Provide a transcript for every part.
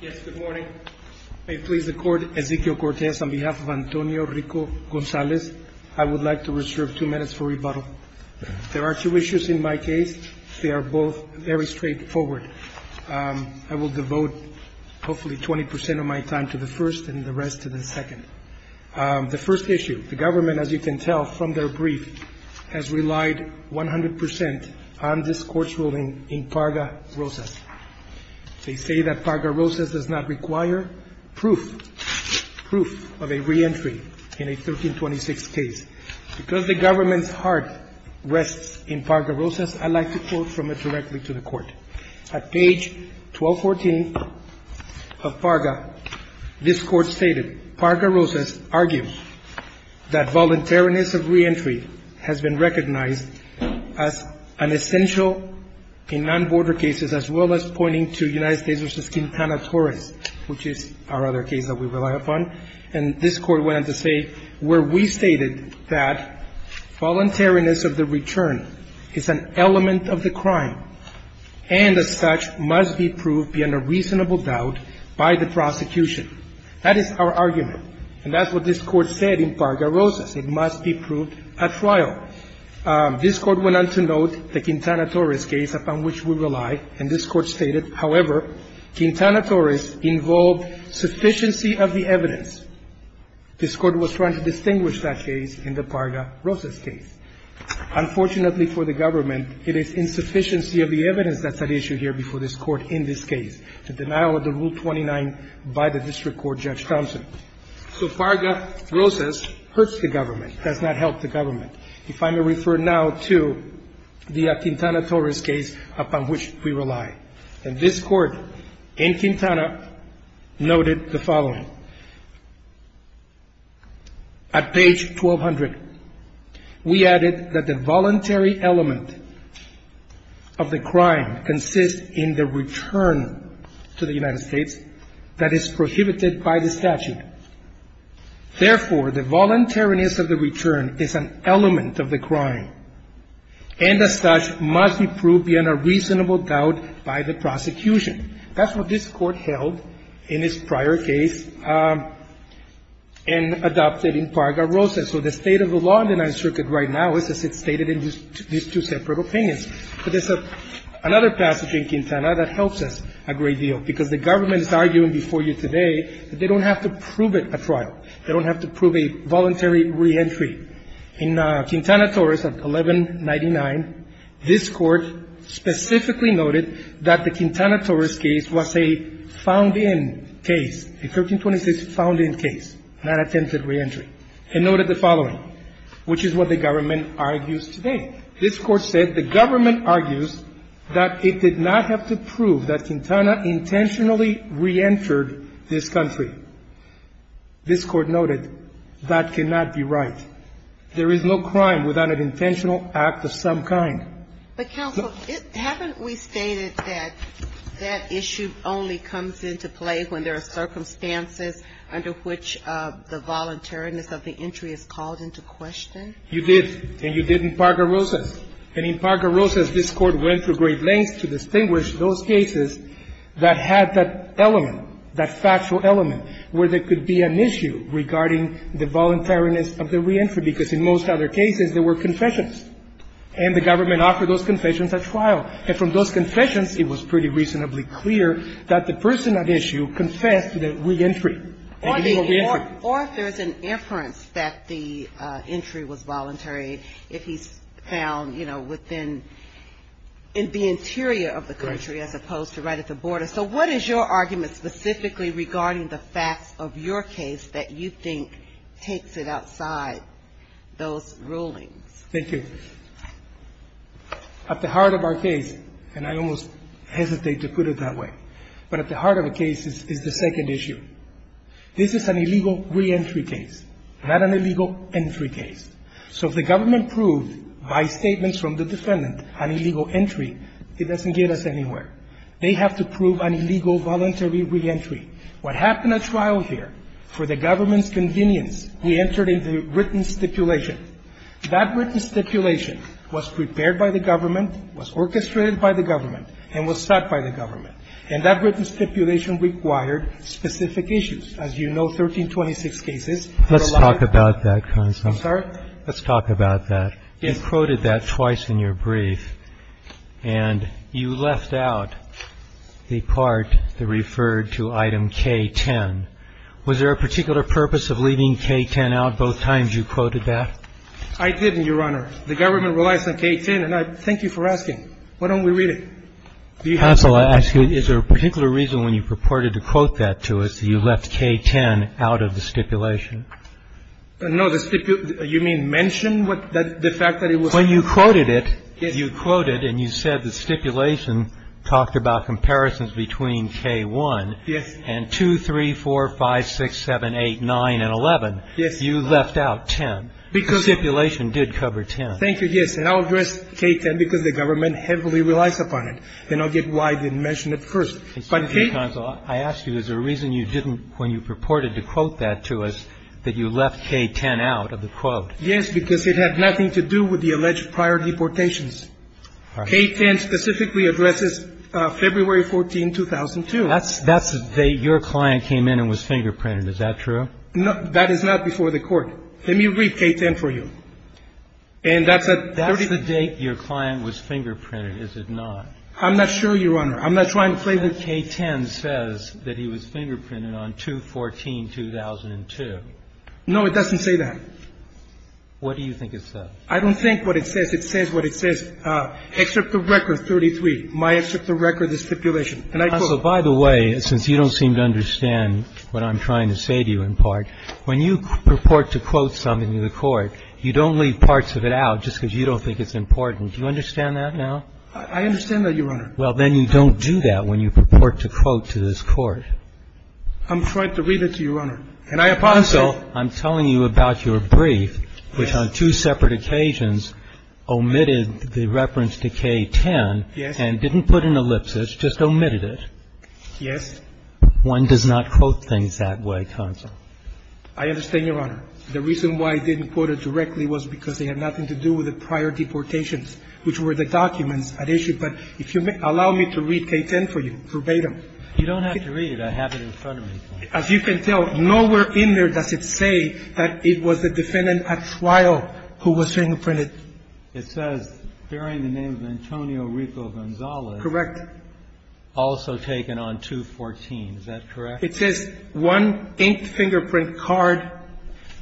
Yes, good morning. May it please the court, Ezequiel Cortes, on behalf of Antonio Rico-Gonzalez, I would like to reserve two minutes for rebuttal. There are two issues in my case. They are both very straightforward. I will devote hopefully 20 percent of my time to the first and the rest to the second. The first issue, the government, as you can tell from their brief, has relied 100 percent on this court's ruling in Parga-Rosas. They say that Parga-Rosas does not require proof of a reentry in a 1326 case. Because the government's heart rests in Parga-Rosas, I'd like to quote from it directly to the court. At page 1214 of Parga, this court stated, Parga-Rosas argues that voluntariness of reentry has been recognized as an essential in non-border cases, as well as pointing to United States v. Quintana Torres, which is our other case that we rely upon. And this court went on to say, where we stated that voluntariness of the return is an element of the crime and, as such, must be proved beyond a reasonable doubt by the prosecution. That is our argument. And that's what this court said in Parga-Rosas. It must be proved at trial. This court went on to note the Quintana Torres case upon which we rely, and this court stated, however, Quintana Torres involved of the evidence. This court was trying to distinguish that case in the Parga-Rosas case. Unfortunately for the government, it is insufficiency of the evidence that's at issue here before this court in this case. The denial of the Rule 29 by the district court, Judge Thompson. So Parga-Rosas hurts the government, does not help the government. If I may refer now to the Quintana Torres case upon which we rely. And this court in Quintana noted the following. At page 1200, we added that the voluntary element of the crime consists in the return to the United States that is prohibited by the statute. Therefore, the voluntariness of the return is an element of the crime. And as such, must be proved beyond a reasonable doubt by the prosecution. That's what this court held in its prior case and adopted in Parga-Rosas. So the state of the law in the Ninth Circuit right now is as it's stated in these two separate opinions. But there's another passage in Quintana that helps us a great deal. Because the government is arguing before you today that they don't have to prove it at trial. They don't have to prove a voluntary reentry. In Quintana Torres at 1199, this court specifically noted that the Quintana Torres case was a found-in case, a 1326 found-in case, not attempted reentry. It noted the following, which is what the government argues today. This court said the government argues that it did not have to prove that Quintana intentionally reentered this country. This court noted that cannot be right. There is no crime without an intentional act of some kind. But, counsel, haven't we stated that that issue only comes into play when there are circumstances under which the voluntariness of the entry is called into question? You did. And you did in Parga-Rosas. And in Parga-Rosas, this Court went to great lengths to distinguish those cases that had that element, that factual element, where there could be an issue regarding the voluntariness of the reentry. Because in most other cases, there were confessions. And the government offered those confessions at trial. And from those confessions, it was pretty reasonably clear that the person at issue confessed to the reentry. Or if there's an inference that the entry was voluntary, if he's found, you know, within the interior of the country as opposed to right at the border. So what is your argument specifically regarding the facts of your case that you think takes it outside those rulings? Thank you. At the heart of our case, and I almost hesitate to put it that way, but at the heart of the case is the second issue. This is an illegal reentry case, not an illegal entry case. So if the government proved by statements from the defendant an illegal entry, it doesn't get us anywhere. They have to prove an illegal voluntary reentry. What happened at trial here, for the government's convenience, we entered into written stipulation. That written stipulation was prepared by the government, was orchestrated by the government, and was sought by the government. And that written stipulation required specific issues. As you know, 1326 cases. Let's talk about that, Counsel. I'm sorry? Let's talk about that. You quoted that twice in your brief, and you left out the part that referred to item K-10. Was there a particular purpose of leaving K-10 out both times you quoted that? I didn't, Your Honor. The government relies on K-10, and I thank you for asking. Why don't we read it? Counsel, I ask you, is there a particular reason when you purported to quote that to us that you left K-10 out of the stipulation? No, you mean mention the fact that it was? When you quoted it, you quoted and you said the stipulation talked about comparisons between K-1 and 2, 3, 4, 5, 6, 7, 8, 9, and 11. Yes. You left out 10. Stipulation did cover 10. Thank you, yes. And I'll address K-10 because the government heavily relies upon it. Then I'll get why I didn't mention it first. But K- Counsel, I ask you, is there a reason you didn't, when you purported to quote that to us, that you left K-10 out of the quote? Yes, because it had nothing to do with the alleged prior deportations. K-10 specifically addresses February 14, 2002. That's the day your client came in and was fingerprinted. Is that true? That is not before the Court. Let me read K-10 for you. And that's a That's the date your client was fingerprinted, is it not? I'm not sure, Your Honor. I'm not trying to say that K-10 says that he was fingerprinted on 2-14-2002. No, it doesn't say that. What do you think it says? I don't think what it says. It says what it says. Excerpt of record 33. My excerpt of record is stipulation. And I quote. Counsel, by the way, since you don't seem to understand what I'm trying to say to you When you purport to quote something to the Court, you don't leave parts of it out just because you don't think it's important. Do you understand that now? I understand that, Your Honor. Well, then you don't do that when you purport to quote to this Court. I'm trying to read it to you, Your Honor. And I apologize. Counsel, I'm telling you about your brief, which on two separate occasions omitted the reference to K-10. Yes. And didn't put an ellipsis, just omitted it. Yes. One does not quote things that way, Counsel. I understand, Your Honor. The reason why I didn't quote it directly was because they had nothing to do with the prior deportations, which were the documents at issue. But if you allow me to read K-10 for you verbatim. You don't have to read it. I have it in front of me. As you can tell, nowhere in there does it say that it was the defendant at trial who was being imprinted. It says, bearing the name of Antonio Rico Gonzalez. Correct. Also taken on 214. Is that correct? It says one inked fingerprint card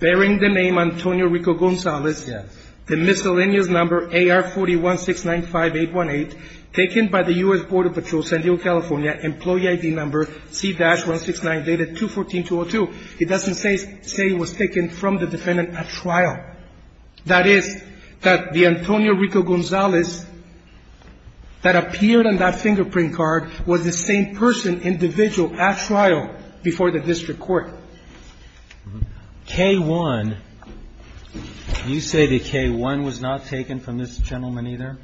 bearing the name Antonio Rico Gonzalez. Yes. The miscellaneous number AR401695818, taken by the U.S. Border Patrol, San Diego, California, employee ID number C-169, dated 214-202. It doesn't say it was taken from the defendant at trial. That is, that the Antonio Rico Gonzalez that appeared on that fingerprint card was the same person, the same individual at trial before the district court. K-1. You say that K-1 was not taken from this gentleman either?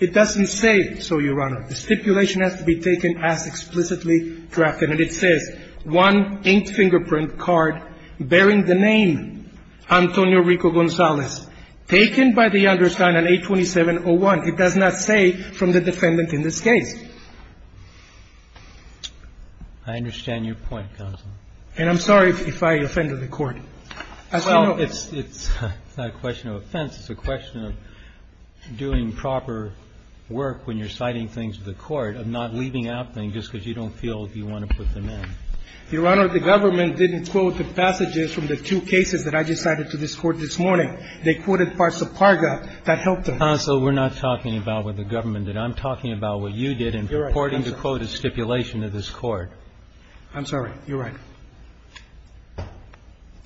It doesn't say so, Your Honor. The stipulation has to be taken as explicitly drafted. And it says one inked fingerprint card bearing the name Antonio Rico Gonzalez, taken by the undersigned on 827-01. It does not say from the defendant in this case. I understand your point, Counsel. And I'm sorry if I offended the Court. Well, it's not a question of offense. It's a question of doing proper work when you're citing things to the Court, of not leaving out things just because you don't feel you want to put them in. Your Honor, the government didn't quote the passages from the two cases that I just cited to this Court this morning. They quoted parts of PARGA that helped them. Counsel, we're not talking about what the government did. I'm talking about what you did in purporting to quote a stipulation of this Court. I'm sorry. You're right.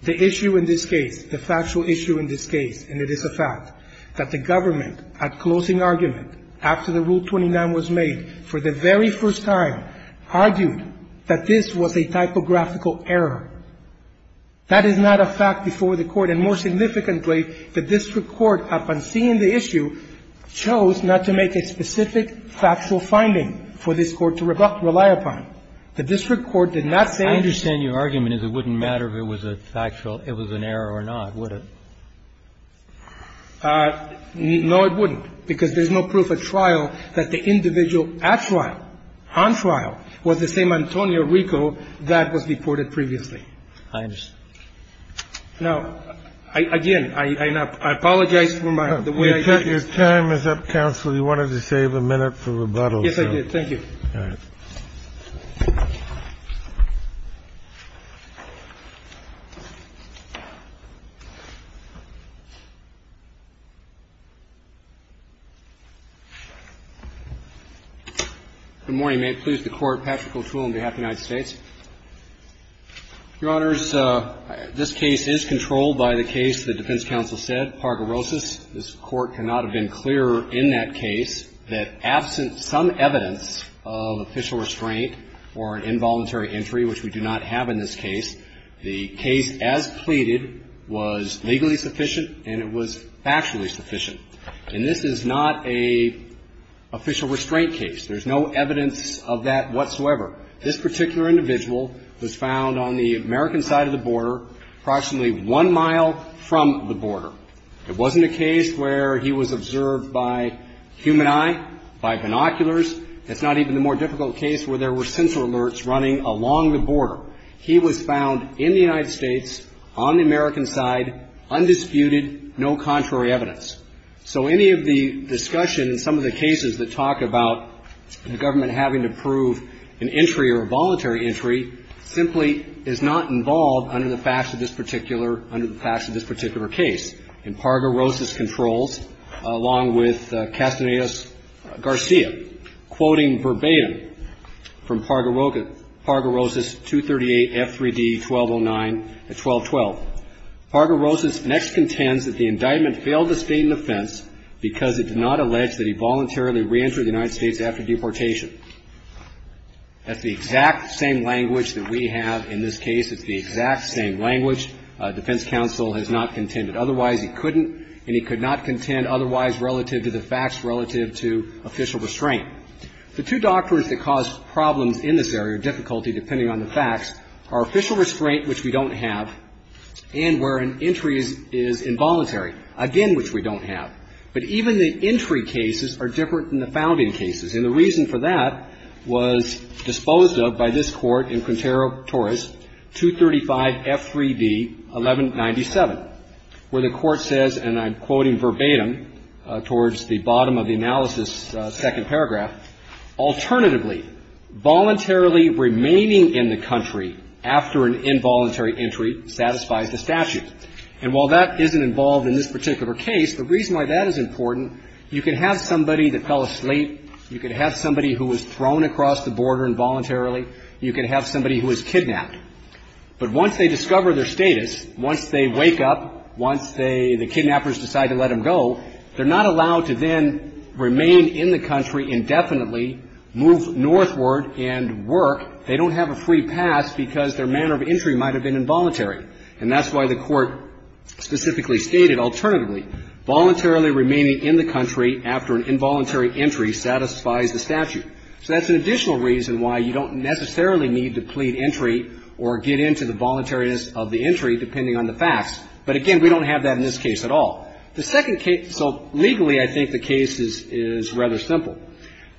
The issue in this case, the factual issue in this case, and it is a fact, that the government at closing argument after the Rule 29 was made for the very first time argued that this was a typographical error. That is not a fact before the Court. I understand your argument is it wouldn't matter if it was a factual, it was an error or not, would it? No, it wouldn't, because there's no proof at trial that the individual at trial, on trial, was the same Antonio Rico that was reported previously. I understand. Now, again, I apologize for my the way I did. Your time is up, Counsel. You wanted to save a minute for rebuttal. Yes, I did. Thank you. All right. Good morning. May it please the Court. Patrick O'Toole on behalf of the United States. Your Honors, this case is controlled by the case the defense counsel said, Pargorosis. This Court cannot have been clearer in that case that absent some evidence of official restraint or involuntary entry, which we do not have in this case, the case as pleaded was legally sufficient and it was factually sufficient. And this is not an official restraint case. There's no evidence of that whatsoever. This particular individual was found on the American side of the border, approximately one mile from the border. It wasn't a case where he was observed by human eye, by binoculars. It's not even the more difficult case where there were sensor alerts running along the border. He was found in the United States, on the American side, undisputed, no contrary evidence. So any of the discussion in some of the cases that talk about the government having to prove an entry or a voluntary entry simply is not involved under the facts of this particular, under the facts of this particular case. And Pargorosis controls, along with Castanedas-Garcia, quoting verbatim from Pargorosis 238 F3D 1209 at 1212. Pargorosis next contends that the indictment failed the State in defense because it did not allege that he voluntarily reentered the United States after deportation. That's the exact same language that we have in this case. It's the exact same language. Defense counsel has not contended. Otherwise, he couldn't and he could not contend otherwise relative to the facts relative to official restraint. The two doctrines that cause problems in this area, difficulty depending on the facts, are official restraint, which we don't have, and where an entry is involuntary, again, which we don't have. But even the entry cases are different than the founding cases. And the reason for that was disposed of by this Court in Quintero-Torres 235 F3D 1197, where the Court says, and I'm quoting verbatim towards the bottom of the analysis, alternatively, voluntarily remaining in the country after an involuntary entry satisfies the statute. And while that isn't involved in this particular case, the reason why that is important, you can have somebody that fell asleep, you can have somebody who was thrown across the border involuntarily, you can have somebody who was kidnapped. But once they discover their status, once they wake up, once they the kidnappers decide to let them go, they're not allowed to then remain in the country indefinitely, move northward and work. They don't have a free pass because their manner of entry might have been involuntary. And that's why the Court specifically stated, alternatively, voluntarily remaining in the country after an involuntary entry satisfies the statute. So that's an additional reason why you don't necessarily need to plead entry or get into the voluntariness of the entry, depending on the facts. But, again, we don't have that in this case at all. The second case, so legally I think the case is rather simple.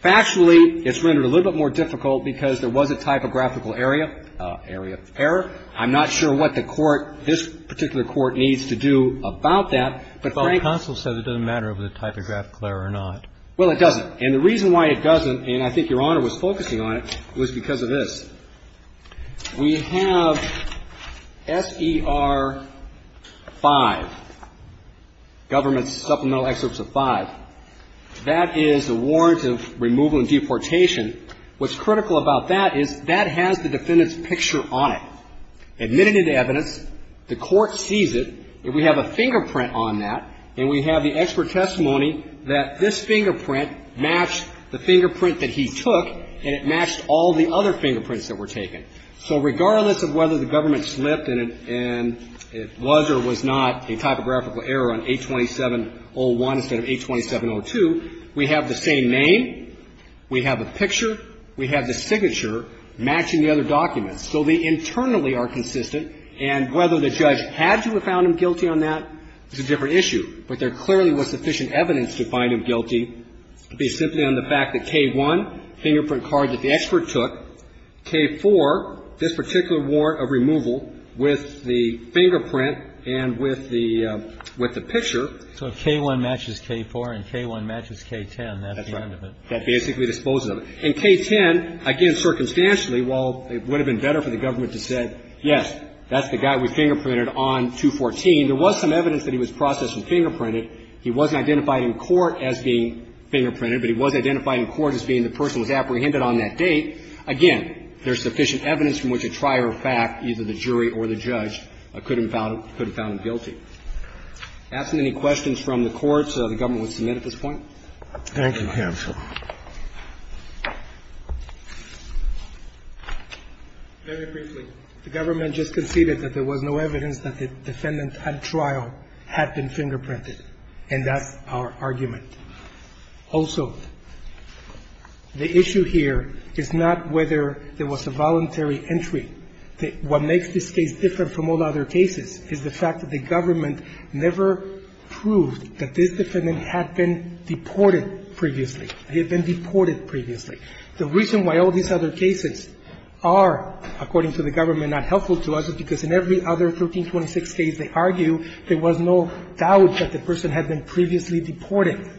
Factually, it's rendered a little bit more difficult because there was a typographical area, area of error. I'm not sure what the Court, this particular Court, needs to do about that, but frankly ---- But the counsel said it doesn't matter if it's a typographical error or not. Well, it doesn't. And the reason why it doesn't, and I think Your Honor was focusing on it, was because of this. We have S.E.R. 5, Government Supplemental Excerpts of 5. That is the warrant of removal and deportation. What's critical about that is that has the defendant's picture on it. Admitted in the evidence, the Court sees it, and we have a fingerprint on that, and we have the expert testimony that this fingerprint matched the fingerprint that he took, and it matched all the other fingerprints that were taken. So regardless of whether the government slipped and it was or was not a typographical error on 827-01 instead of 827-02, we have the same name, we have a picture, we have the signature matching the other documents. So they internally are consistent, and whether the judge had to have found him guilty on that is a different issue, but there clearly was sufficient evidence to find him So if K-1 matches K-4 and K-1 matches K-10, that's the end of it. That's right. That basically disposes of it. In K-10, again, circumstantially, while it would have been better for the government to have said, yes, that's the guy we fingerprinted on 214, there was some evidence that he was processed and fingerprinted. He wasn't identified in court as being fingerprinted, but he was identified in court as being the person who was apprehended. So if the defendant was apprehended on that date, again, there's sufficient evidence from which a trier of fact, either the jury or the judge, could have found him guilty. Asking any questions from the courts, the government would submit at this point? Thank you, counsel. Very briefly, the government just conceded that there was no evidence that the defendant at trial had been fingerprinted, and that's our argument. Also, the issue here is not whether there was a voluntary entry. What makes this case different from all other cases is the fact that the government never proved that this defendant had been deported previously. He had been deported previously. The reason why all these other cases are, according to the government, not helpful to us is because in every other 1326 case they argue, there was no doubt that the defendant had been deported.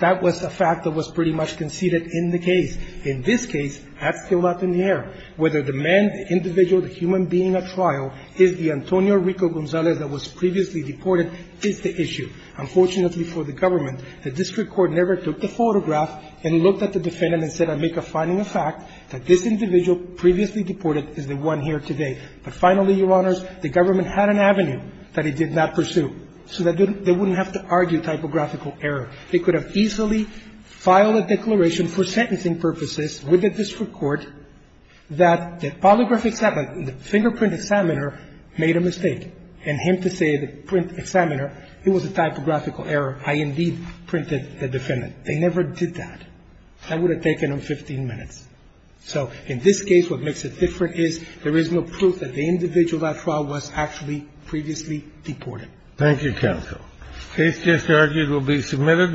That was a fact that was pretty much conceded in the case. In this case, that's still not in the air. Whether the man, the individual, the human being at trial is the Antonio Rico Gonzalez that was previously deported is the issue. Unfortunately for the government, the district court never took the photograph and looked at the defendant and said, I make a finding of fact that this individual previously deported is the one here today. But finally, Your Honors, the government had an avenue that it did not pursue, so that they wouldn't have to argue typographical error. They could have easily filed a declaration for sentencing purposes with the district court that the polygraph examiner, the fingerprint examiner made a mistake, and him to say to the print examiner it was a typographical error, I indeed printed the defendant. They never did that. That would have taken them 15 minutes. So in this case, what makes it different is there is no proof that the individual at trial was actually previously deported. Thank you, counsel. The case just argued will be submitted.